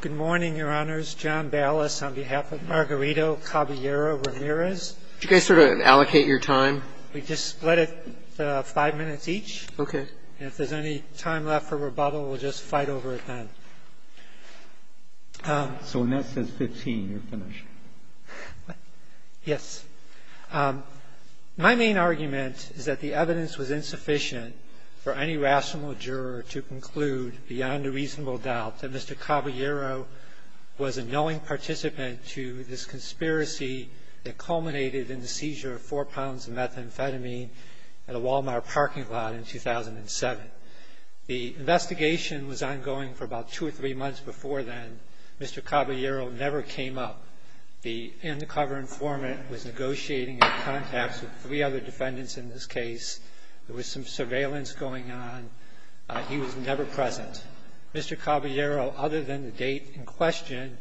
Good morning, Your Honors. John Ballas on behalf of Margarito Caballero Ramirez. Could you guys sort of allocate your time? We just split it five minutes each. Okay. And if there's any time left for rebuttal, we'll just fight over it then. So when that says 15, you're finished. Yes. My main argument is that the evidence was insufficient for any rational juror to conclude, beyond a reasonable doubt, that Mr. Caballero was a knowing participant to this conspiracy that culminated in the seizure of four pounds of methamphetamine at a Walmart parking lot in 2007. The investigation was ongoing for about two or three months before then. Mr. Caballero never came up. The undercover informant was negotiating in contact with three other defendants in this case. There was some surveillance going on. He was never present. Mr. Caballero, other than the date in question,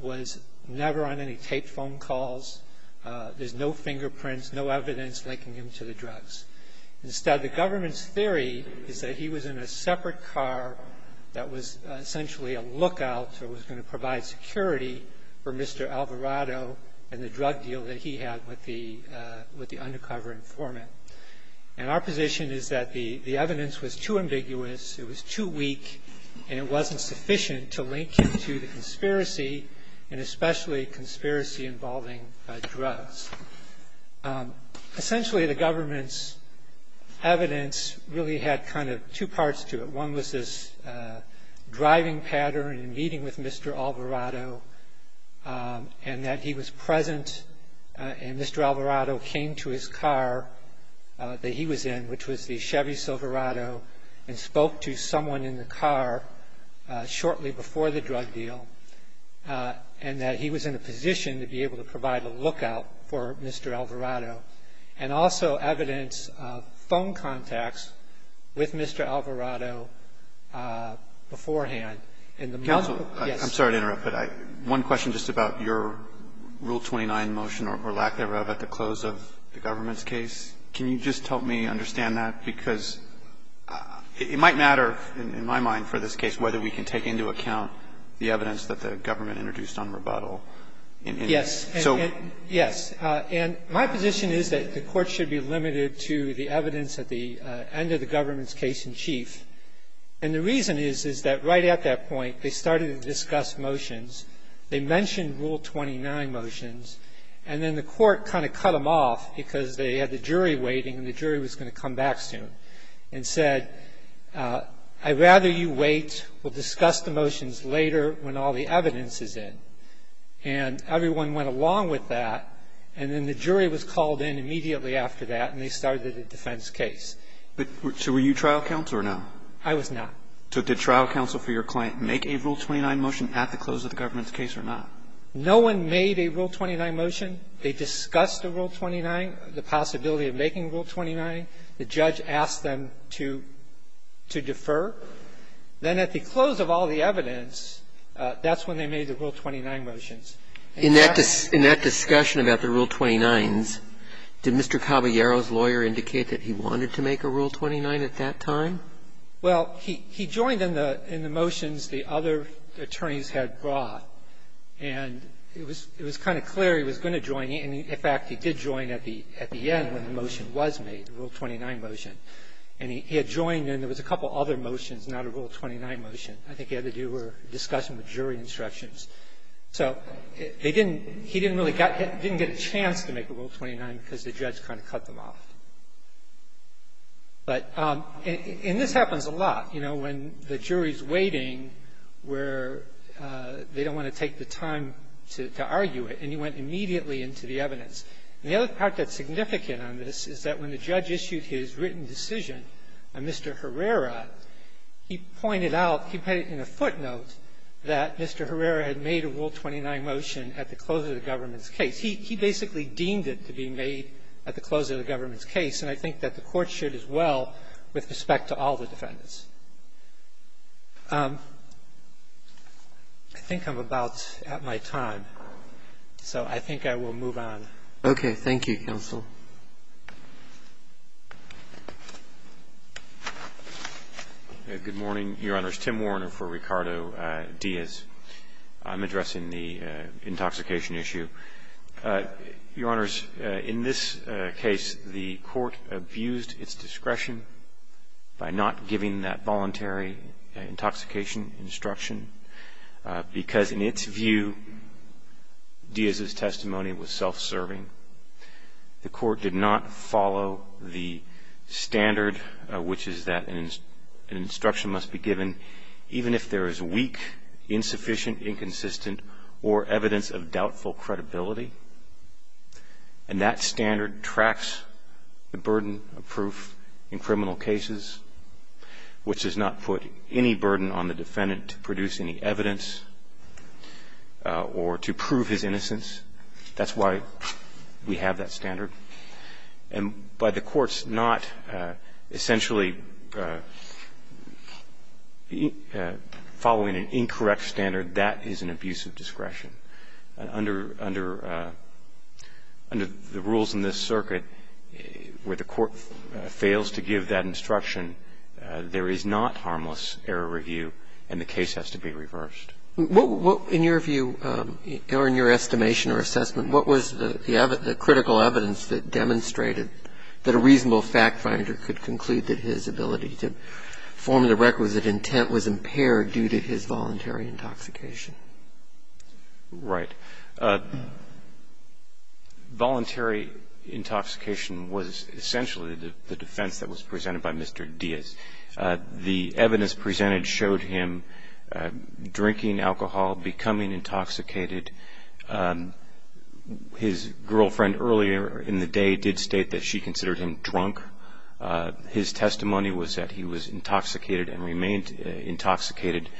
was never on any tape phone calls. There's no fingerprints, no evidence linking him to the drugs. Instead, the government's theory is that he was in a separate car that was essentially a lookout or was going to provide security for Mr. Alvarado and the drug deal that he had with the undercover informant. And our position is that the evidence was too ambiguous, it was too weak, and it wasn't sufficient to link him to the conspiracy, and especially conspiracy involving drugs. Essentially, the government's evidence really had kind of two parts to it. One was this driving pattern in meeting with Mr. Alvarado and that he was present and Mr. Alvarado came to his car that he was in, which was the Chevy Silverado, and spoke to someone in the car shortly before the drug deal and that he was in a position to be able to provide a lookout for Mr. Alvarado. And also evidence of phone contacts with Mr. Alvarado beforehand. And the multiple – Counsel, I'm sorry to interrupt, but one question just about your Rule 29 motion or lack thereof at the close of the government's case. Can you just help me understand that? Because it might matter in my mind for this case whether we can take into account the evidence that the government introduced on rebuttal. Yes. So – The reason is that the Court should be limited to the evidence at the end of the government's case in chief. And the reason is, is that right at that point, they started to discuss motions. They mentioned Rule 29 motions, and then the Court kind of cut them off because they had the jury waiting and the jury was going to come back soon, and said, I'd rather you wait. We'll discuss the motions later when all the evidence is in. And everyone went along with that, and then the jury was called in immediately after that, and they started a defense case. So were you trial counsel or no? I was not. So did trial counsel for your client make a Rule 29 motion at the close of the government's case or not? No one made a Rule 29 motion. They discussed the Rule 29, the possibility of making Rule 29. The judge asked them to defer. Then at the close of all the evidence, that's when they made the Rule 29 motions. In that discussion about the Rule 29s, did Mr. Caballero's lawyer indicate that he wanted to make a Rule 29 at that time? Well, he joined in the motions the other attorneys had brought. And it was kind of clear he was going to join. In fact, he did join at the end when the motion was made, the Rule 29 motion. And he had joined, and there was a couple other motions, not a Rule 29 motion. I think he had to do a discussion with jury instructions. So they didn't – he didn't really get – didn't get a chance to make a Rule 29 because the judge kind of cut them off. But – and this happens a lot, you know, when the jury is waiting where they don't want to take the time to argue it, and he went immediately into the evidence. And the other part that's significant on this is that when the judge issued his written decision on Mr. Herrera, he pointed out – he put it in a footnote that Mr. Herrera had made a Rule 29 motion at the close of the government's case. He basically deemed it to be made at the close of the government's case, and I think that the Court should as well with respect to all the defendants. I think I'm about at my time. So I think I will move on. Okay. Thank you, counsel. Good morning, Your Honors. Tim Warner for Ricardo Diaz. I'm addressing the intoxication issue. Your Honors, in this case, the Court abused its discretion by not giving that voluntary intoxication instruction because in its view, Diaz's testimony was self-serving. The Court did not follow the standard, which is that an instruction must be given even if there is weak, insufficient, inconsistent, or evidence of doubtful credibility. And that standard tracks the burden of proof in criminal cases, which does not put any burden on the defendant to produce any evidence or to prove his innocence. That's why we have that standard. And by the Court's not essentially following an incorrect standard, that is an abuse of discretion. Under the rules in this circuit, where the Court fails to give that instruction, there is not harmless error review, and the case has to be reversed. In your view, or in your estimation or assessment, what was the critical evidence that demonstrated that a reasonable fact finder could conclude that his ability to form the requisite intent was impaired due to his voluntary intoxication? Right. Voluntary intoxication was essentially the defense that was presented by Mr. Diaz. The evidence presented showed him drinking alcohol, becoming intoxicated. His girlfriend earlier in the day did state that she considered him drunk. His testimony was that he was intoxicated and remained intoxicated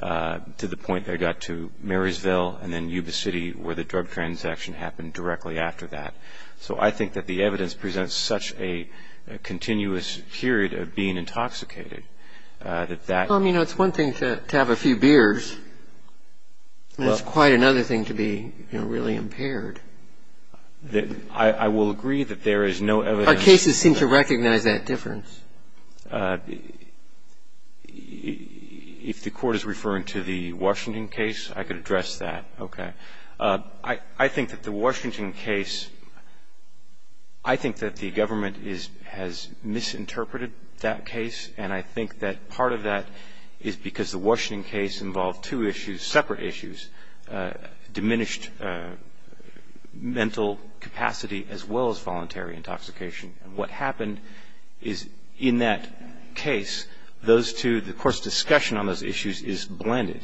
to the point that he got to Marysville and then Yuba City, where the drug transaction happened directly after that. So I think that the evidence presents such a continuous period of being intoxicated that that Well, I mean, it's one thing to have a few beers, and it's quite another thing to be really impaired. I will agree that there is no evidence Our cases seem to recognize that difference. If the Court is referring to the Washington case, I could address that. Okay. I think that the Washington case, I think that the government has misinterpreted that case, and I think that part of that is because the Washington case involved two issues, separate issues, diminished mental capacity as well as voluntary intoxication. And what happened is in that case, those two, of course, discussion on those issues is blended.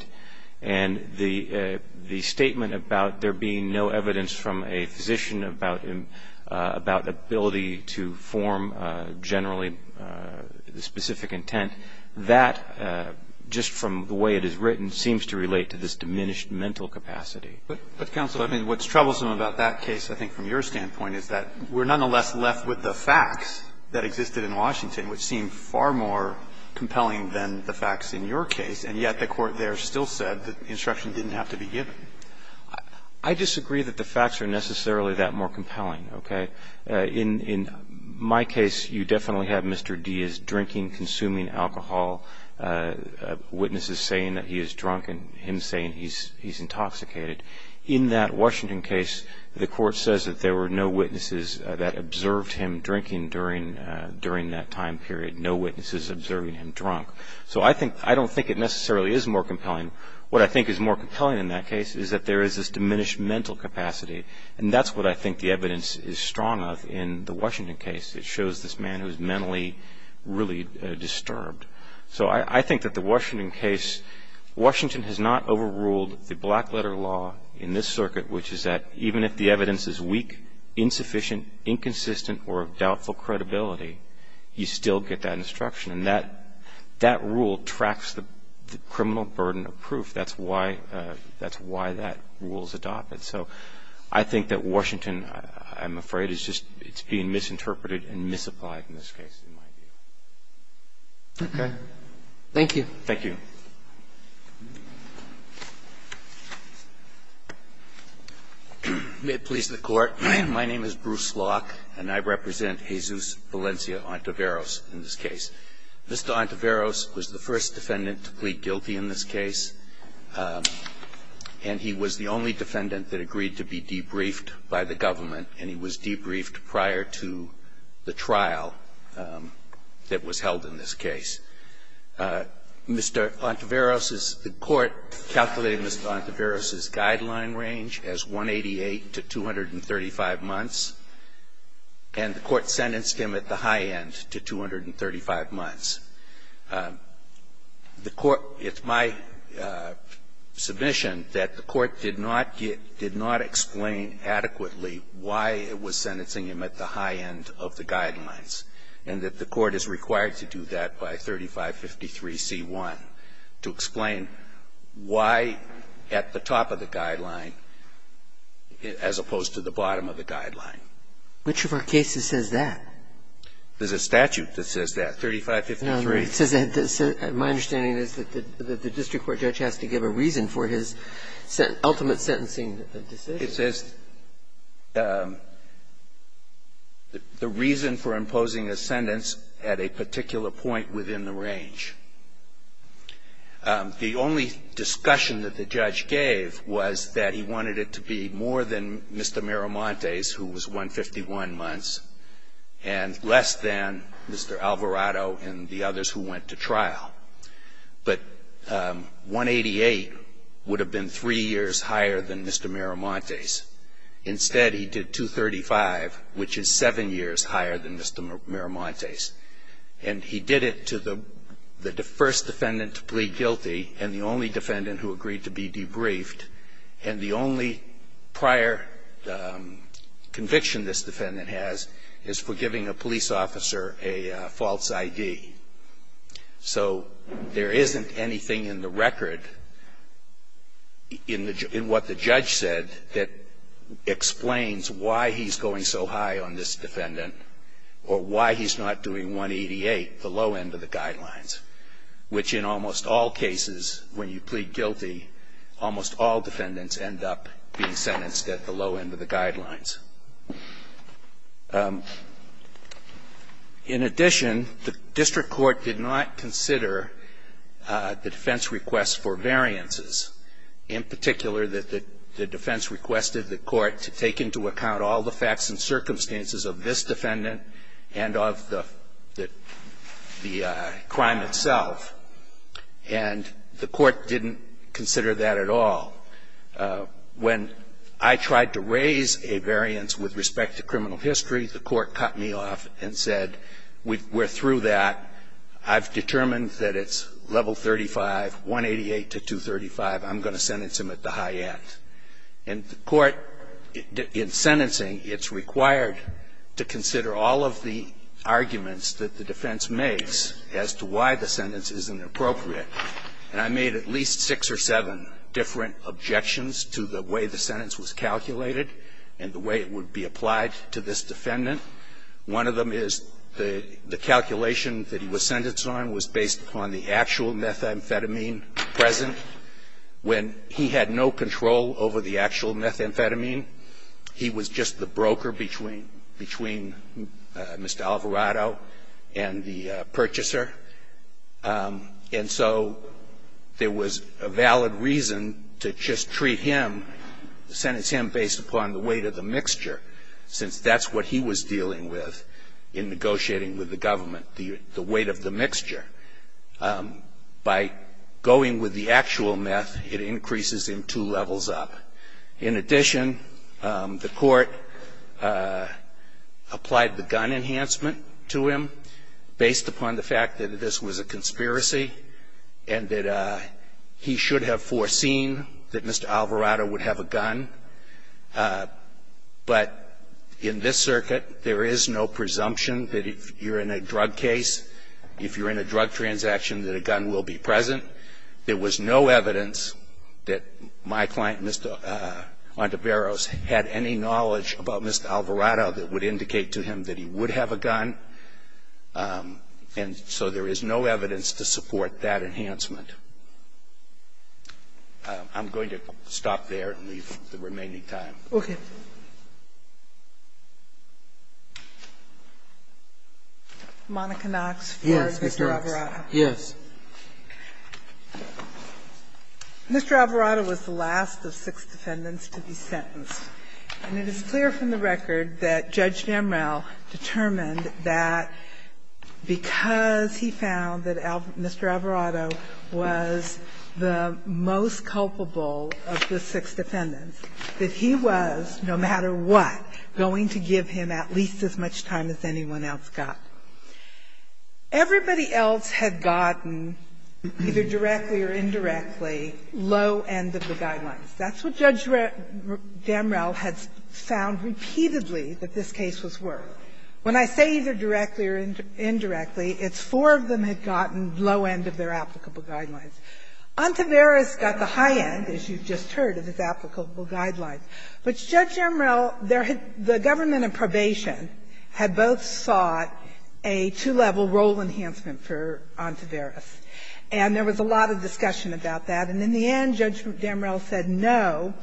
And the statement about there being no evidence from a physician about ability to form generally specific intent, that, just from the way it is written, seems to relate to this diminished mental capacity. But, Counsel, I mean, what's troublesome about that case, I think, from your standpoint, is that we're nonetheless left with the facts that existed in Washington, which seem far more compelling than the facts in your case, and yet the Court there still said that the instruction didn't have to be given. I disagree that the facts are necessarily that more compelling, okay. In my case, you definitely have Mr. Diaz drinking, consuming alcohol, witnesses saying that he is drunk and him saying he's intoxicated. In that Washington case, the Court says that there were no witnesses that observed him drinking during that time period, no witnesses observing him drunk. So I don't think it necessarily is more compelling. What I think is more compelling in that case is that there is this diminished mental capacity, and that's what I think the evidence is strong of in the Washington case. It shows this man who is mentally really disturbed. So I think that the Washington case, Washington has not overruled the black letter law in this circuit, which is that even if the evidence is weak, insufficient, inconsistent or of doubtful credibility, you still get that instruction. And that rule tracks the criminal burden of proof. That's why that rule is adopted. So I think that Washington, I'm afraid, is just being misinterpreted and misapplied in this case, in my view. Okay. Thank you. Thank you. May it please the Court. My name is Bruce Locke, and I represent Jesus Valencia-Ontiveros in this case. Mr. Ontiveros was the first defendant to plead guilty in this case, and he was the only defendant that agreed to be debriefed by the government, and he was debriefed prior to the trial that was held in this case. Mr. Ontiveros's – the Court calculated Mr. Ontiveros's guideline range as 188 to 235 months, and the Court sentenced him at the high end to 235 months. The Court – it's my submission that the Court did not get – did not explain adequately why it was sentencing him at the high end of the guidelines, and that the Court is required to do that by 3553c1 to explain why at the top of the guideline as opposed to the bottom of the guideline. Which of our cases says that? There's a statute that says that, 3553. No, it says that – my understanding is that the district court judge has to give a reason for his ultimate sentencing decision. It says the reason for imposing a sentence at a particular point within the range. The only discussion that the judge gave was that he wanted it to be more than Mr. Miramontes, who was 151 months, and less than Mr. Alvarado and the others who went to trial. But 188 would have been three years higher than Mr. Miramontes. Instead, he did 235, which is seven years higher than Mr. Miramontes. And he did it to the first defendant to plead guilty and the only defendant who agreed to be debriefed. And the only prior conviction this defendant has is for giving a police officer a false ID. So there isn't anything in the record, in what the judge said, that explains why he's going so high on this defendant or why he's not doing 188, the low end of the guidelines, which in almost all cases, when you plead guilty, almost all defendants end up being sentenced at the low end of the guidelines. In addition, the district court did not consider the defense request for variances. In particular, the defense requested the court to take into account all the facts and circumstances of this defendant and of the crime itself. And the court didn't consider that at all. When I tried to raise a variance with respect to criminal history, the court cut me off and said, we're through that. I've determined that it's level 35, 188 to 235. I'm going to sentence him at the high end. And the court, in sentencing, it's required to consider all of the arguments that the defense makes as to why the sentence isn't appropriate. And I made at least six or seven different objections to the way the sentence was calculated and the way it would be applied to this defendant. One of them is the calculation that he was sentenced on was based upon the actual methamphetamine present. When he had no control over the actual methamphetamine, he was just the broker between Mr. Alvarado and the purchaser. And so there was a valid reason to just treat him, sentence him based upon the weight of the mixture, since that's what he was dealing with in negotiating with the government, the weight of the mixture. By going with the actual meth, it increases him two levels up. In addition, the court applied the gun enhancement to him based upon the fact that this was a conspiracy and that he should have foreseen that Mr. Alvarado would have a gun. But in this circuit, there is no presumption that if you're in a drug case, if you're in a drug transaction, that a gun will be present. There was no evidence that my client, Mr. Monteveros, had any knowledge about Mr. Alvarado that would indicate to him that he would have a gun. And so there is no evidence to support that enhancement. I'm going to stop there and leave the remaining time. Sotomayor, Okay. Monica Knox for Mr. Alvarado. Yes. Mr. Alvarado was the last of six defendants to be sentenced. And it is clear from the record that Judge Damrell determined that because he found that Mr. Alvarado was the most culpable of the six defendants, that he was, no matter what, going to give him at least as much time as anyone else got. Everybody else had gotten, either directly or indirectly, low end of the guidelines. That's what Judge Damrell had found repeatedly that this case was worth. When I say either directly or indirectly, it's four of them had gotten low end of their applicable guidelines. Monteveros got the high end, as you've just heard, of his applicable guidelines. But Judge Damrell, there had been the government in probation had both sought a two-level role enhancement for Monteveros, and there was a lot of discussion about that. And in the end, Judge Damrell said no,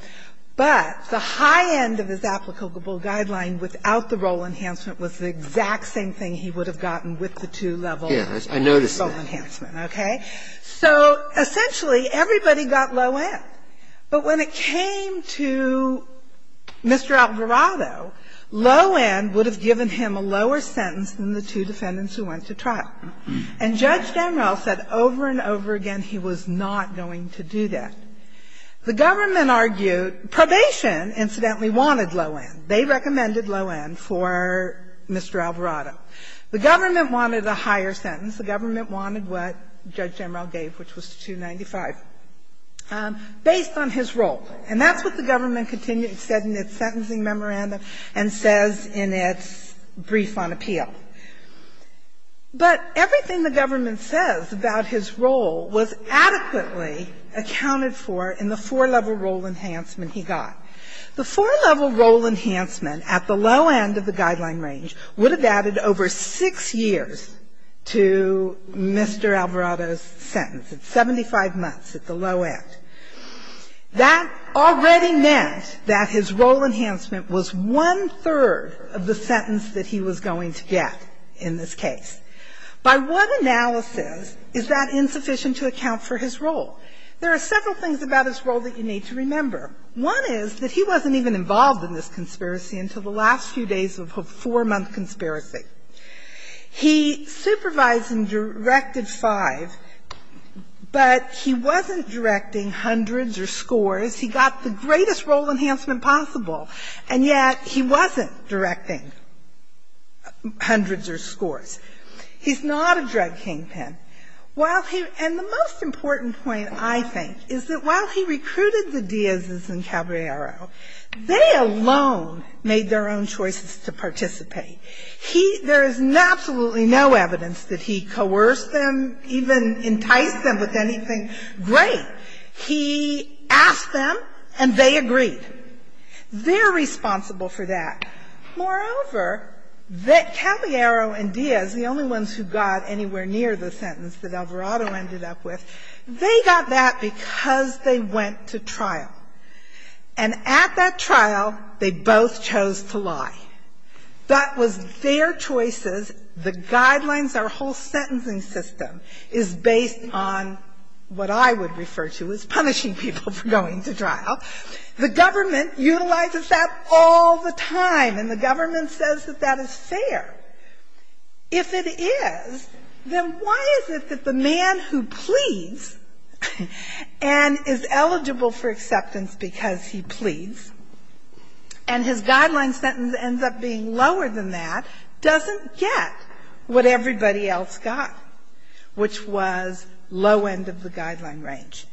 but the high end of his applicable guideline without the role enhancement was the exact same thing he would have gotten with the two-level role enhancement. Okay? So essentially, everybody got low end. But when it came to Mr. Alvarado, low end would have given him a lower sentence than the two defendants who went to trial. And Judge Damrell said over and over again he was not going to do that. The government argued probation, incidentally, wanted low end. They recommended low end for Mr. Alvarado. The government wanted a higher sentence. The government wanted what Judge Damrell gave, which was 295, based on his role. And that's what the government continued to say in its sentencing memorandum and says in its brief on appeal. But everything the government says about his role was adequately accounted for in the four-level role enhancement he got. The four-level role enhancement at the low end of the guideline range would have added over 6 years to Mr. Alvarado's sentence. It's 75 months at the low end. That already meant that his role enhancement was one-third of the sentence that he was going to get in this case. By what analysis is that insufficient to account for his role? There are several things about his role that you need to remember. One is that he wasn't even involved in this conspiracy until the last few days of a four-month conspiracy. He supervised and directed five, but he wasn't directing hundreds or scores. He got the greatest role enhancement possible, and yet he wasn't directing hundreds or scores. He's not a drug kingpin. While he – and the most important point, I think, is that while he recruited the Díaz's and Caballero, they alone made their own choices to participate. He – there is absolutely no evidence that he coerced them, even enticed them with anything. Great. He asked them, and they agreed. They're responsible for that. Moreover, that Caballero and Díaz, the only ones who got anywhere near the sentence that Alvarado ended up with, they got that because they went to trial. And at that trial, they both chose to lie. That was their choices. The guidelines, our whole sentencing system, is based on what I would refer to as punishing people for going to trial. The government utilizes that all the time, and the government says that that is fair. If it is, then why is it that the man who pleads and is eligible for acceptance because he pleads, and his guideline sentence ends up being lower than that, doesn't get what everybody else got, which was low end of the guideline range?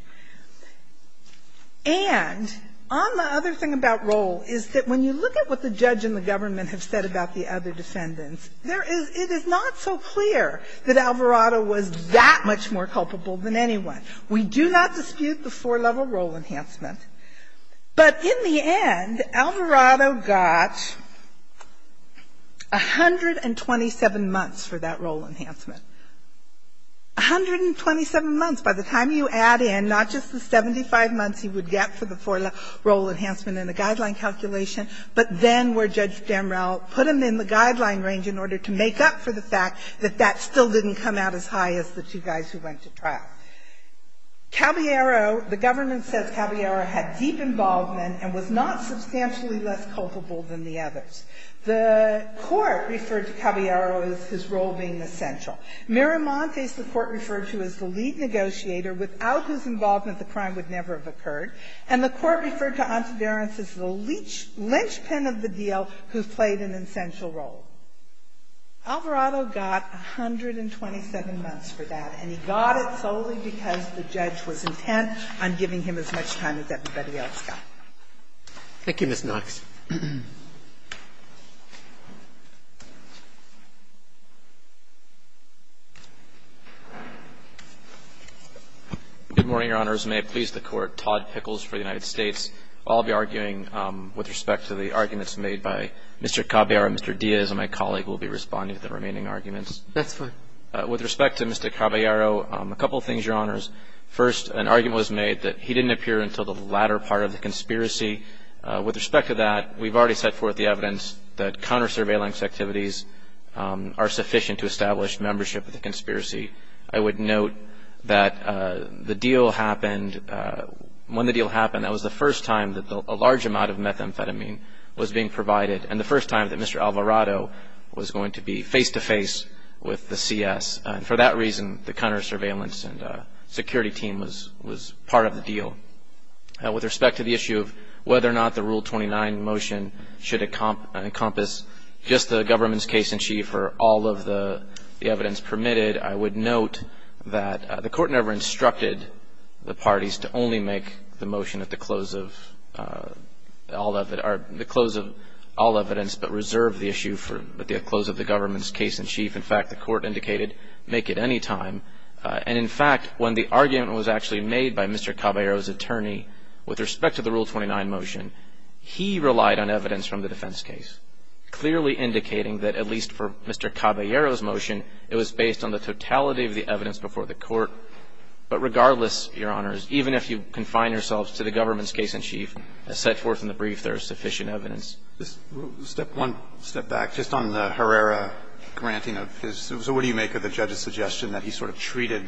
And on the other thing about role is that when you look at what the judge and the government have said about the other defendants, there is – it is not so clear that Alvarado was that much more culpable than anyone. We do not dispute the four-level role enhancement, but in the end, Alvarado got 127 months for that role enhancement. 127 months. By the time you add in not just the 75 months he would get for the four-level role enhancement and the guideline calculation, but then where Judge Damrell put him in the guideline range in order to make up for the fact that that still didn't come out as high as the two guys who went to trial. Caballero, the government says Caballero had deep involvement and was not substantially less culpable than the others. The Court referred to Caballero as his role being essential. Miramontes, the Court referred to as the lead negotiator without whose involvement the crime would never have occurred. And the Court referred to Anteberranz as the linchpin of the deal who played an essential role. Alvarado got 127 months for that, and he got it solely because the judge was intent on giving him as much time as everybody else got. Thank you, Ms. Knox. Good morning, Your Honors. May it please the Court. Todd Pickles for the United States. I'll be arguing with respect to the arguments made by Mr. Caballero, Mr. Diaz, and my colleague will be responding to the remaining arguments. That's fine. With respect to Mr. Caballero, a couple of things, Your Honors. First, an argument was made that he didn't appear until the latter part of the conspiracy. With respect to that, we've already set forth the evidence that counter-surveillance activities are sufficient to establish membership of the conspiracy. I would note that when the deal happened, that was the first time that a large amount of methamphetamine was being provided, and the first time that Mr. Alvarado was going to be face-to-face with the CS. For that reason, the counter-surveillance and security team was part of the deal. With respect to the issue of whether or not the Rule 29 motion should encompass just the government's case-in-chief or all of the evidence permitted, I would note that the Court never instructed the parties to only make the motion at the close of all evidence, but reserve the issue for the close of the government's case-in-chief. In fact, the Court indicated, make it any time, and in fact, when the argument was actually made by Mr. Caballero's attorney with respect to the Rule 29 motion, he relied on evidence from the defense case, clearly indicating that at least for Mr. Caballero's motion, it was based on the totality of the evidence before the Court. But regardless, Your Honors, even if you confine yourselves to the government's case-in-chief, as set forth in the brief, there is sufficient evidence. Just one step back. Just on the Herrera granting of his so what do you make of the judge's suggestion that he sort of treated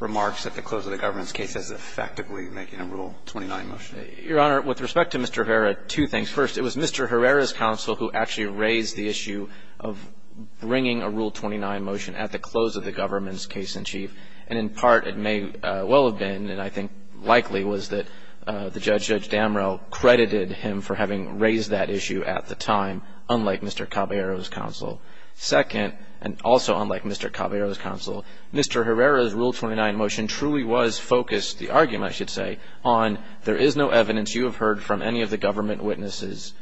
remarks at the close of the government's case as effectively making a Rule 29 motion? Your Honor, with respect to Mr. Herrera, two things. First, it was Mr. Herrera's counsel who actually raised the issue of bringing a Rule 29 motion at the close of the government's case-in-chief. And in part, it may well have been, and I think likely, was that the judge, Judge Herrera, did not raise that issue at the time, unlike Mr. Caballero's counsel. Second, and also unlike Mr. Caballero's counsel, Mr. Herrera's Rule 29 motion truly was focused, the argument I should say, on there is no evidence you have heard from any of the government witnesses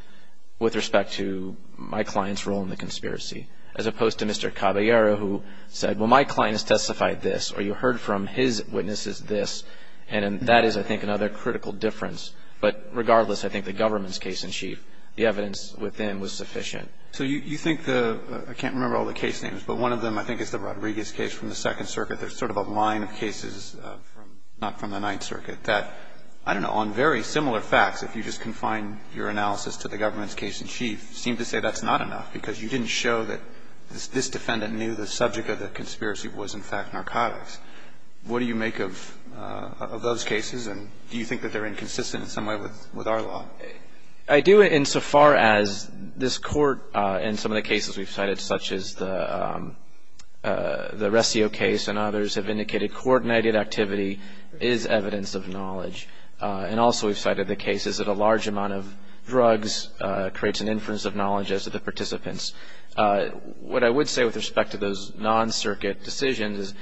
with respect to my client's role in the conspiracy, as opposed to Mr. Caballero, who said, well, my client has testified this, or you heard from his witnesses this. And that is, I think, another critical difference. But regardless, I think the government's case-in-chief, the evidence within was sufficient. So you think the – I can't remember all the case names, but one of them, I think, is the Rodriguez case from the Second Circuit. There's sort of a line of cases not from the Ninth Circuit that, I don't know, on very similar facts, if you just confine your analysis to the government's case-in-chief, seem to say that's not enough, because you didn't show that this defendant knew the subject of the conspiracy was, in fact, narcotics. What do you make of those cases, and do you think that they're inconsistent in some way with our law? I do, insofar as this Court, in some of the cases we've cited, such as the Rescio case and others, have indicated coordinated activity is evidence of knowledge. And also, we've cited the cases that a large amount of drugs creates an inference of knowledge as to the participants. What I would say with respect to those non-Circuit decisions is,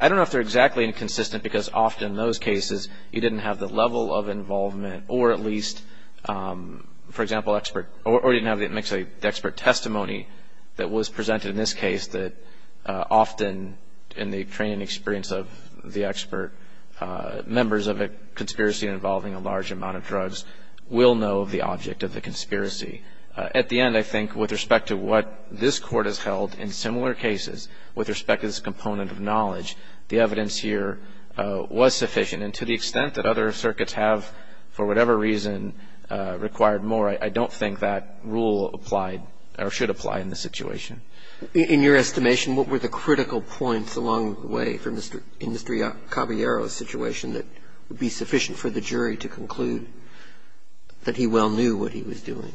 I don't know if they're exactly inconsistent, because often in those cases, you didn't have the level of involvement, or at least, for example, expert, or you didn't have the expert testimony that was presented in this case that often, in the training experience of the expert, members of a conspiracy involving a large amount of drugs will know of the object of the conspiracy. At the end, I think, with respect to what this Court has held in similar cases, with respect to this component of knowledge, the evidence here was sufficient. And to the extent that other circuits have, for whatever reason, required more, I don't think that rule applied, or should apply in this situation. In your estimation, what were the critical points along the way in Mr. Caballero's situation that would be sufficient for the jury to conclude that he well knew what he was doing?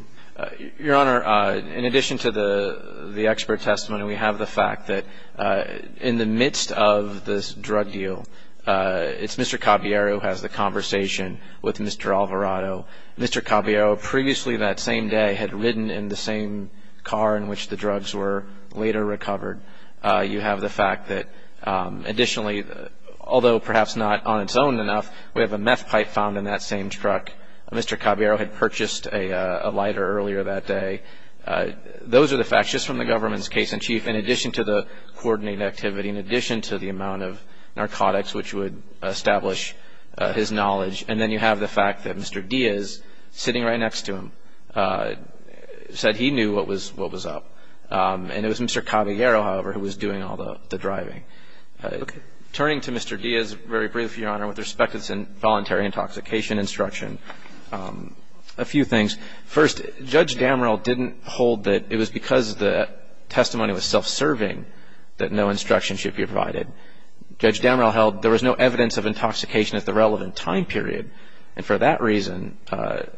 Your Honor, in addition to the expert testimony, we have the fact that in the midst of this drug deal, it's Mr. Caballero who has the conversation with Mr. Alvarado. Mr. Caballero, previously that same day, had ridden in the same car in which the drugs were later recovered. You have the fact that, additionally, although perhaps not on its own enough, we have a meth pipe found in that same truck. Mr. Caballero had purchased a lighter earlier that day. Those are the facts, just from the government's case in chief, in addition to the coordinated activity, in addition to the amount of narcotics which would establish his knowledge. And then you have the fact that Mr. Diaz, sitting right next to him, said he knew what was up. And it was Mr. Caballero, however, who was doing all the driving. Turning to Mr. Diaz, very briefly, Your Honor, with respect to this voluntary intoxication instruction, a few things. First, Judge Damrell didn't hold that it was because the testimony was self-serving that no instruction should be provided. Judge Damrell held there was no evidence of intoxication at the relevant time period. And for that reason,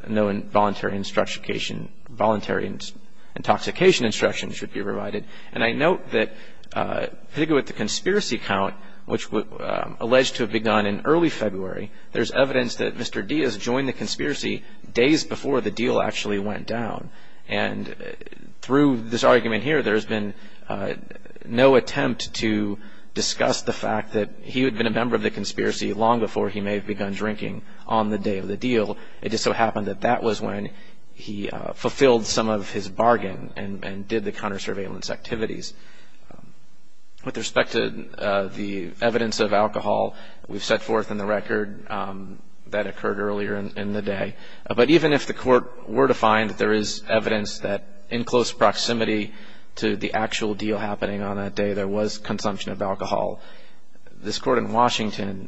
no voluntary intoxication instruction should be provided. And I note that, particularly with the conspiracy count, which was alleged to have begun in early February, there's evidence that Mr. Diaz joined the conspiracy days before the deal actually went down. And through this argument here, there's been no attempt to discuss the fact that he had been a member of the conspiracy long before he may have begun drinking on the day of the deal. It just so happened that that was when he fulfilled some of his bargain and did the counter-surveillance activities. With respect to the evidence of alcohol, we've set forth in the record that occurred earlier in the day. But even if the court were to find that there is evidence that, in close proximity to the actual deal happening on that day, there was consumption of alcohol, this court in Washington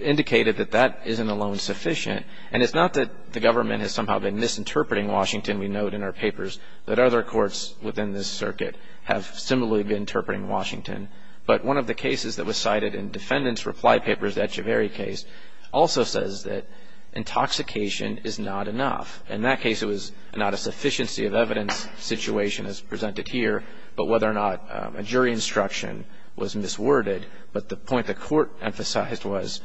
indicated that that isn't alone sufficient. And it's not that the government has somehow been misinterpreting Washington. We note in our papers that other courts within this circuit have similarly been interpreting Washington. But one of the cases that was cited in defendant's reply papers, the Echeveri case, also says that intoxication is not enough. In that case, it was not a sufficiency of evidence situation as presented here, but whether or not a jury instruction was misworded. But the point the court emphasized was,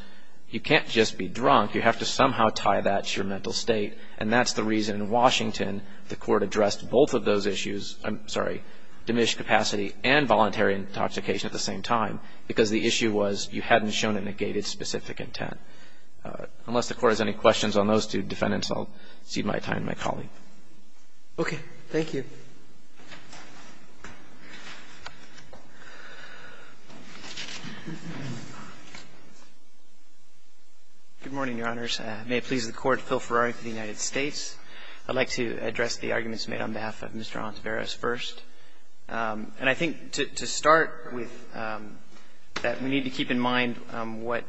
you can't just be drunk. You have to somehow tie that to your mental state. And that's the reason in Washington, the court addressed both of those issues, I'm sorry, diminished capacity and voluntary intoxication at the same time. Because the issue was, you hadn't shown a negated specific intent. Unless the court has any questions on those two defendants, I'll cede my time to my colleague. Okay, thank you. Good morning, your honors. May it please the court, Phil Ferrari for the United States. I'd like to address the arguments made on behalf of Mr. Ontiveros first. And I think to start with, that we need to keep in mind what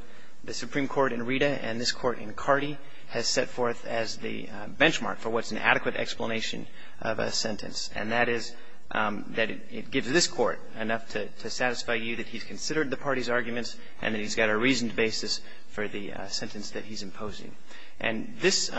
the Supreme Court in Rita and this court in Cardi has set forth as the benchmark for what's an adequate explanation of a sentence. And that is, that it gives this court enough to satisfy you that he's considered the party's arguments, and that he's got a reasoned basis for the sentence that he's proposing. And this,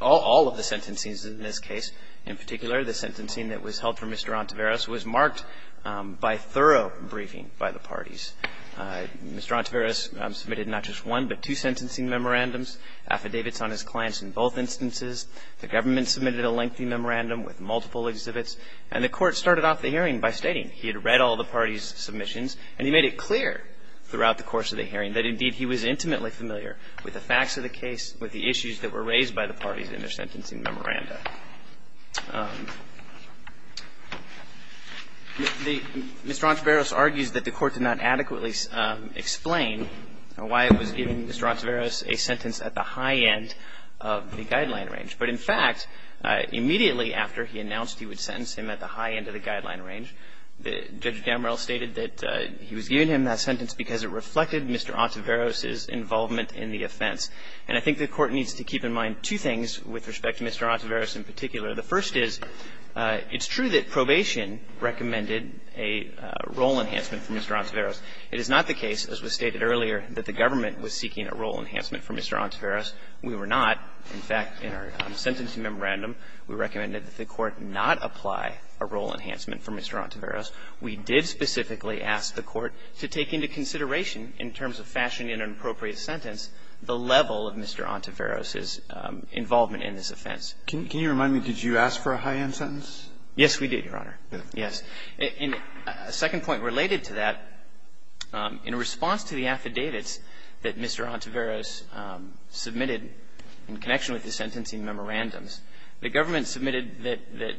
all of the sentencing in this case, in particular, the sentencing that was held for Mr. Ontiveros was marked by thorough briefing by the parties. Mr. Ontiveros submitted not just one, but two sentencing memorandums, affidavits on his clients in both instances. The government submitted a lengthy memorandum with multiple exhibits. And the court started off the hearing by stating he had read all the parties' Mr. Ontiveros argues that the court did not adequately explain why it was giving Mr. Ontiveros a sentence at the high end of the guideline range. But in fact, immediately after he announced he would sentence him at the high end of the guideline range, Judge Gammarell stated that he was giving him that sentence range. And I think the Court needs to keep in mind two things with respect to Mr. Ontiveros in particular. The first is, it's true that probation recommended a role enhancement for Mr. Ontiveros. It is not the case, as was stated earlier, that the government was seeking a role enhancement for Mr. Ontiveros. We were not. In fact, in our sentencing memorandum, we recommended that the Court not apply a role enhancement for Mr. Ontiveros. We did specifically ask the Court to take into consideration, in terms of fashion and an appropriate sentence, the level of Mr. Ontiveros' involvement in this offense. Can you remind me, did you ask for a high-end sentence? Yes, we did, Your Honor. Yes. And a second point related to that, in response to the affidavits that Mr. Ontiveros submitted in connection with the sentencing memorandums, the government submitted that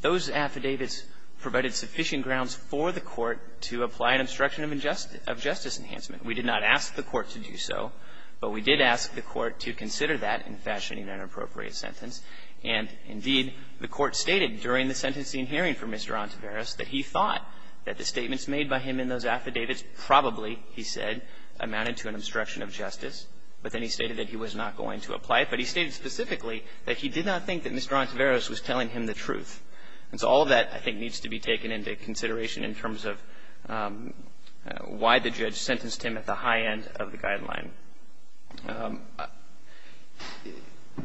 those affidavits provided sufficient grounds for the Court to apply an obstruction of justice enhancement. We did not ask the Court to do so, but we did ask the Court to consider that in fashion and an appropriate sentence. And, indeed, the Court stated during the sentencing hearing for Mr. Ontiveros that he thought that the statements made by him in those affidavits probably, he said, amounted to an obstruction of justice. But then he stated that he was not going to apply it. But he stated specifically that he did not think that Mr. Ontiveros was telling him the truth. And so all of that, I think, needs to be taken into consideration in terms of why the judge sentenced him at the high end of the guideline.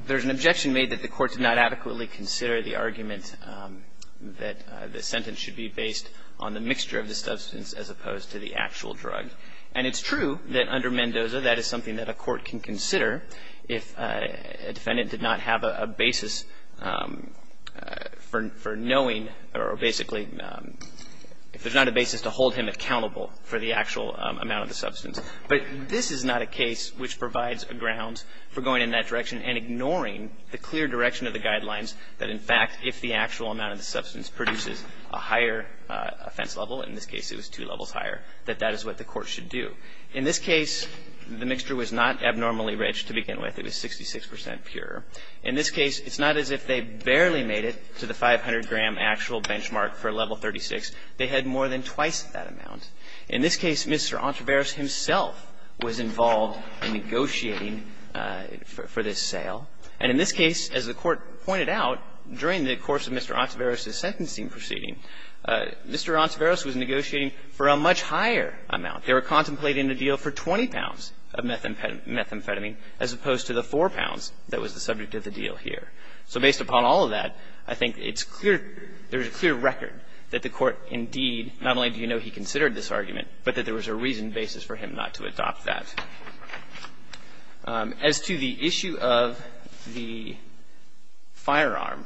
There's an objection made that the Court did not adequately consider the argument that the sentence should be based on the mixture of the substance as opposed to the actual drug. And it's true that under Mendoza, that is something that a court can consider if a defendant did not have a basis for knowing, or basically, if there's not a basis to know, the actual amount of the substance. But this is not a case which provides a ground for going in that direction and ignoring the clear direction of the guidelines that, in fact, if the actual amount of the substance produces a higher offense level, in this case it was two levels higher, that that is what the court should do. In this case, the mixture was not abnormally rich to begin with. It was 66 percent pure. In this case, it's not as if they barely made it to the 500-gram actual benchmark for level 36. They had more than twice that amount. In this case, Mr. Ontiveros himself was involved in negotiating for this sale. And in this case, as the Court pointed out, during the course of Mr. Ontiveros' sentencing proceeding, Mr. Ontiveros was negotiating for a much higher amount. They were contemplating a deal for 20 pounds of methamphetamine as opposed to the 4 pounds that was the subject of the deal here. So based upon all of that, I think it's clear that there's a clear record that the Mr. Ontiveros was not involved in this argument, but that there was a reasoned basis for him not to adopt that. As to the issue of the firearm,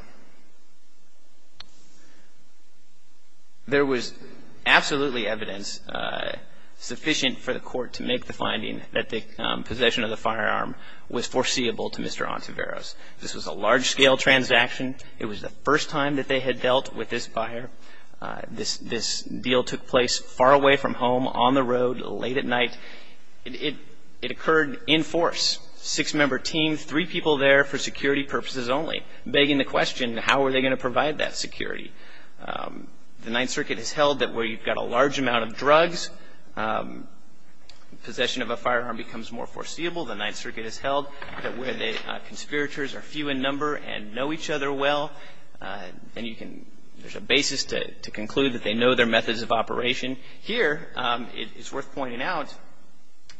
there was absolutely evidence sufficient for the Court to make the finding that the possession of the firearm was foreseeable to Mr. Ontiveros. This was a large-scale transaction. It was the first time that they had dealt with this buyer. This deal took place far away from the court. It took place far away from home, on the road, late at night. It occurred in force. Six-member team, three people there for security purposes only, begging the question, how are they going to provide that security? The Ninth Circuit has held that where you've got a large amount of drugs, possession of a firearm becomes more foreseeable. The Ninth Circuit has held that where the conspirators are few in number and know each other well, there's a basis to conclude that they know their methods of operation. Here, it's worth pointing out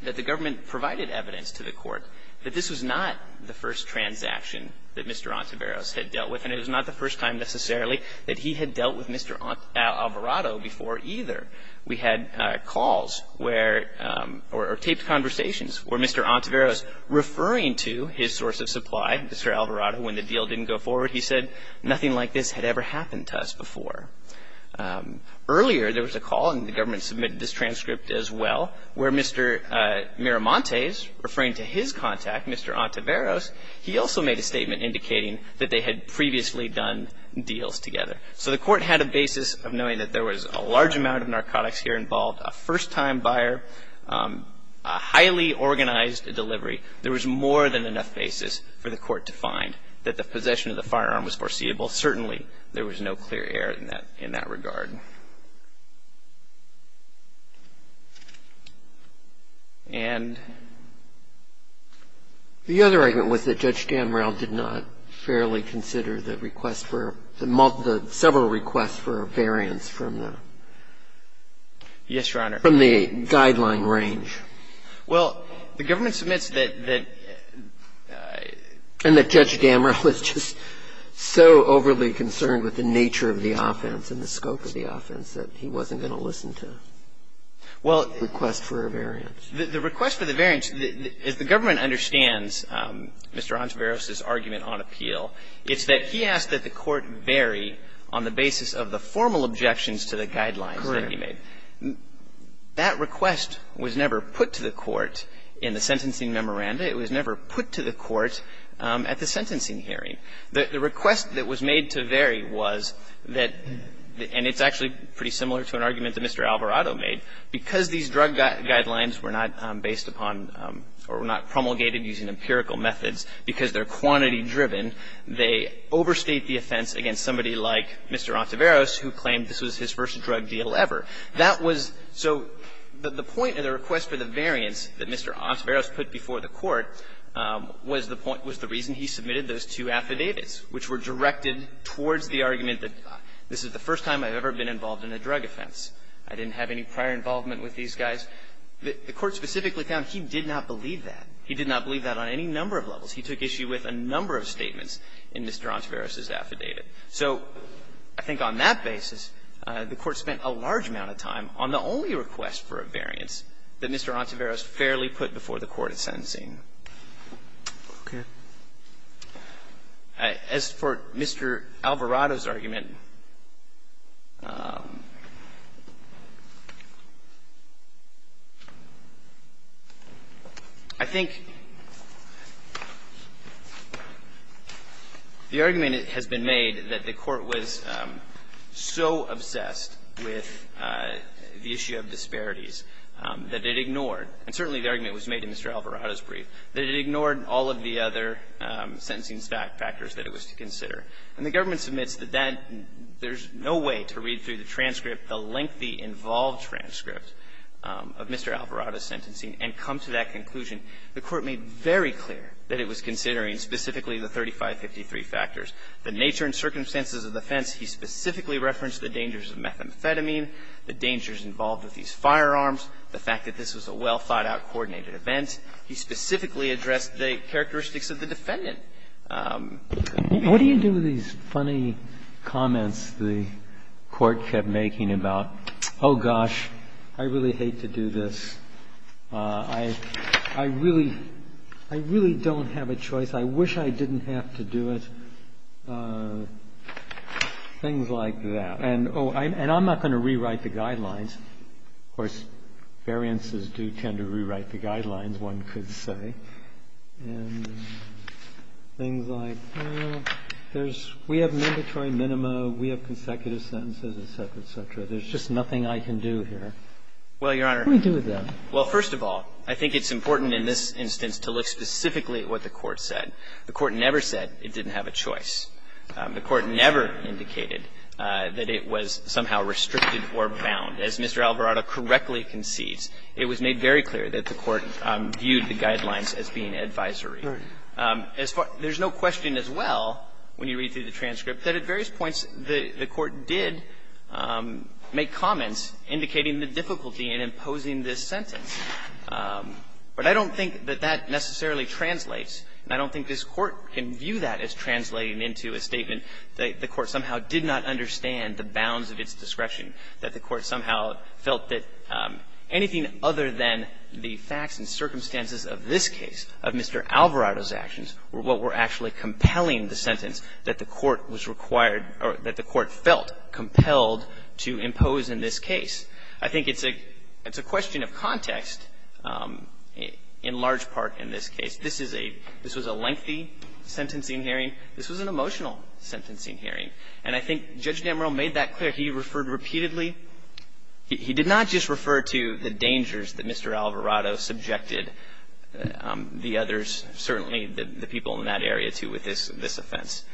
that the government provided evidence to the Court that this was not the first transaction that Mr. Ontiveros had dealt with, and it was not the first time necessarily that he had dealt with Mr. Alvarado before either. We had calls where or taped conversations where Mr. Ontiveros, referring to his source of supply, Mr. Alvarado, when the deal didn't go forward, he said, nothing like this had ever happened to us before. Earlier, there was a call, and the government submitted this transcript as well, where Mr. Miramontes, referring to his contact, Mr. Ontiveros, he also made a statement indicating that they had previously done deals together. So the Court had a basis of knowing that there was a large amount of narcotics here involved, a first-time buyer, a highly organized delivery. There was more than enough basis for the Court to find that the possession of the firearm was foreseeable. While certainly, there was no clear error in that regard. And? The other argument was that Judge Damrell did not fairly consider the request for the multiple, several requests for a variance from the. Yes, Your Honor. From the guideline range. Well, the government submits that, and that Judge Damrell was just so over the top overly concerned with the nature of the offense and the scope of the offense that he wasn't going to listen to the request for a variance. The request for the variance, as the government understands Mr. Ontiveros's argument on appeal, it's that he asked that the Court vary on the basis of the formal objections to the guidelines that he made. That request was never put to the Court in the sentencing memoranda. It was never put to the Court at the sentencing hearing. The request that was made to vary was that, and it's actually pretty similar to an argument that Mr. Alvarado made, because these drug guidelines were not based upon or were not promulgated using empirical methods because they're quantity-driven, they overstate the offense against somebody like Mr. Ontiveros who claimed this was his first drug deal ever. That was so the point of the request for the variance that Mr. Ontiveros put before the Court was the point, was the reason he submitted those two affidavits, which were directed towards the argument that this is the first time I've ever been involved in a drug offense, I didn't have any prior involvement with these guys. The Court specifically found he did not believe that. He did not believe that on any number of levels. He took issue with a number of statements in Mr. Ontiveros's affidavit. So I think on that basis, the Court spent a large amount of time on the only request for a variance that Mr. Ontiveros fairly put before the Court at sentencing. As for Mr. Alvarado's argument, I think the argument that has been made that the Court was so obsessed with the issue of disparities that it ignored, and certainly the argument was made in Mr. Alvarado's brief, that it ignored all of the other sentencing factors that it was to consider. And the government submits that that there's no way to read through the transcript, the lengthy involved transcript of Mr. Alvarado's sentencing and come to that conclusion. The Court made very clear that it was considering specifically the 3553 factors, the nature and circumstances of the offense. He specifically referenced the dangers of methamphetamine, the dangers involved with these firearms, the fact that this was a well-thought-out, coordinated event. He specifically addressed the characteristics of the defendant. What do you do with these funny comments the Court kept making about, oh, gosh, I really hate to do this, I really don't have a choice, I wish I didn't have to do it. Things like that. And, oh, and I'm not going to rewrite the guidelines. Of course, variances do tend to rewrite the guidelines, one could say. And things like, well, there's we have mandatory minima, we have consecutive sentences, et cetera, et cetera. There's just nothing I can do here. What do we do with that? Well, Your Honor, well, first of all, I think it's important in this instance to look specifically at what the Court said. The Court never said it didn't have a choice. The Court never indicated that it was somehow restricted or bound. As Mr. Alvarado correctly concedes, it was made very clear that the Court viewed the guidelines as being advisory. As far as no question as well, when you read through the transcript, that at various points the Court did make comments indicating the difficulty in imposing this sentence. But I don't think that that necessarily translates, and I don't think this Court can view that as translating into a statement that the Court somehow did not understand the bounds of its discretion, that the Court somehow felt that anything other than the facts and circumstances of this case, of Mr. Alvarado's actions, were what were actually compelling the sentence that the Court was required or that the Court felt compelled to impose in this case. I think it's a question of context in large part in this case. This is a – this was a lengthy sentencing hearing. This was an emotional sentencing hearing. And I think Judge D'Ambrio made that clear. He referred repeatedly – he did not just refer to the dangers that Mr. Alvarado subjected the others, certainly the people in that area, to with this offense.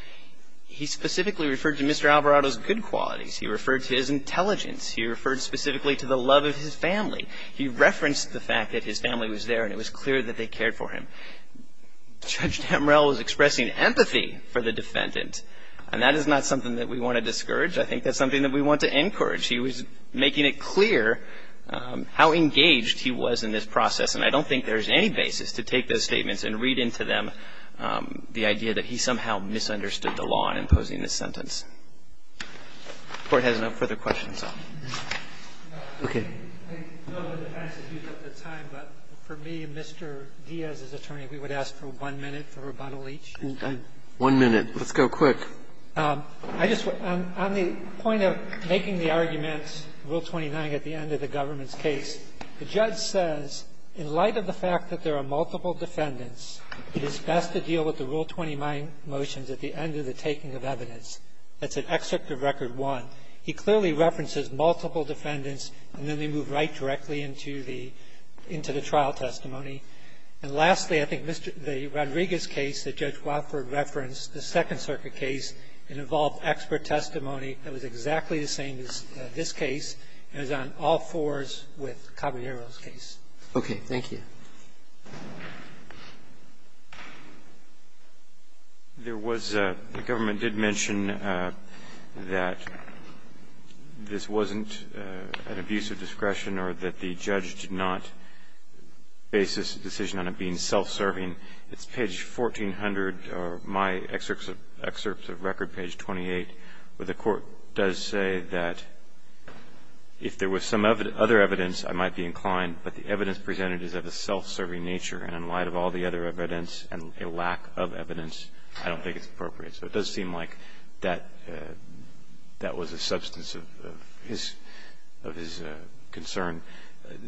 He specifically referred to Mr. Alvarado's good qualities. He referred to his intelligence. He referred specifically to the love of his family. He referenced the fact that his family was there and it was clear that they cared for him. Judge D'Ambrio was expressing empathy for the defendant, and that is not something that we want to discourage. I think that's something that we want to encourage. He was making it clear how engaged he was in this process, and I don't think there is any basis to take those statements and read into them the idea that he somehow misunderstood the law in imposing this sentence. The Court has no further questions, though. Okay. I know the defense is used up to time, but for me, Mr. Diaz's attorney, we would ask for one minute for rebuttal each. One minute. Let's go quick. I just – on the point of making the argument, Rule 29, at the end of the government's case, the judge says, in light of the fact that there are multiple defendants, it is best to deal with the Rule 29 motions at the end of the taking of evidence. That's at Excerpt of Record 1. He clearly references multiple defendants, and then they move right directly into the – into the trial testimony. And lastly, I think Mr. – the Rodriguez case that Judge Wofford referenced, the Second Circuit case, it involved expert testimony that was exactly the same as this case, and it was on all fours with Caballero's case. Okay. Thank you. There was a – the government did mention that this wasn't an abuse of discretion or that the judge did not base this decision on it being self-serving. It's page 1400, or my Excerpt of Record, page 28, where the court does say that if there was some other evidence, I might be inclined, but the evidence presented is of a self-serving nature, and in light of all the other evidence and a lack of evidence, I don't think it's appropriate. So it does seem like that – that was a substance of his – of his concern.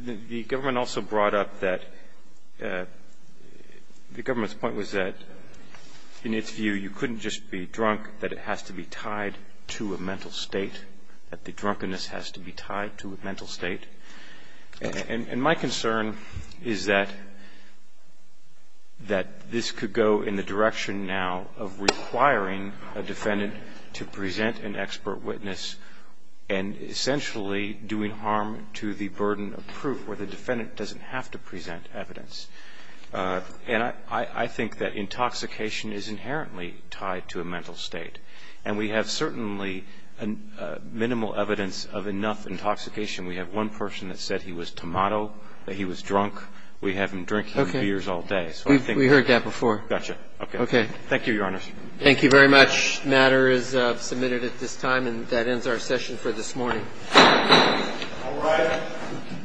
The government also brought up that – the government's point was that, in its view, you couldn't just be drunk, that it has to be tied to a mental state, that the drunkenness has to be tied to a mental state. And my concern is that – that this could go in the direction now of requiring a defendant to present an expert witness and essentially doing harm to the burden of proof where the defendant doesn't have to present evidence. And I think that intoxication is inherently tied to a mental state. And we have certainly minimal evidence of enough intoxication. We have one person that said he was tomato, that he was drunk. We have him drinking beers all day. We've heard that before. Gotcha. Okay. Thank you, Your Honor. Thank you very much. The matter is submitted at this time, and that ends our session for this morning. All right.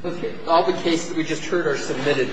Okay. All the cases that we just heard are submitted.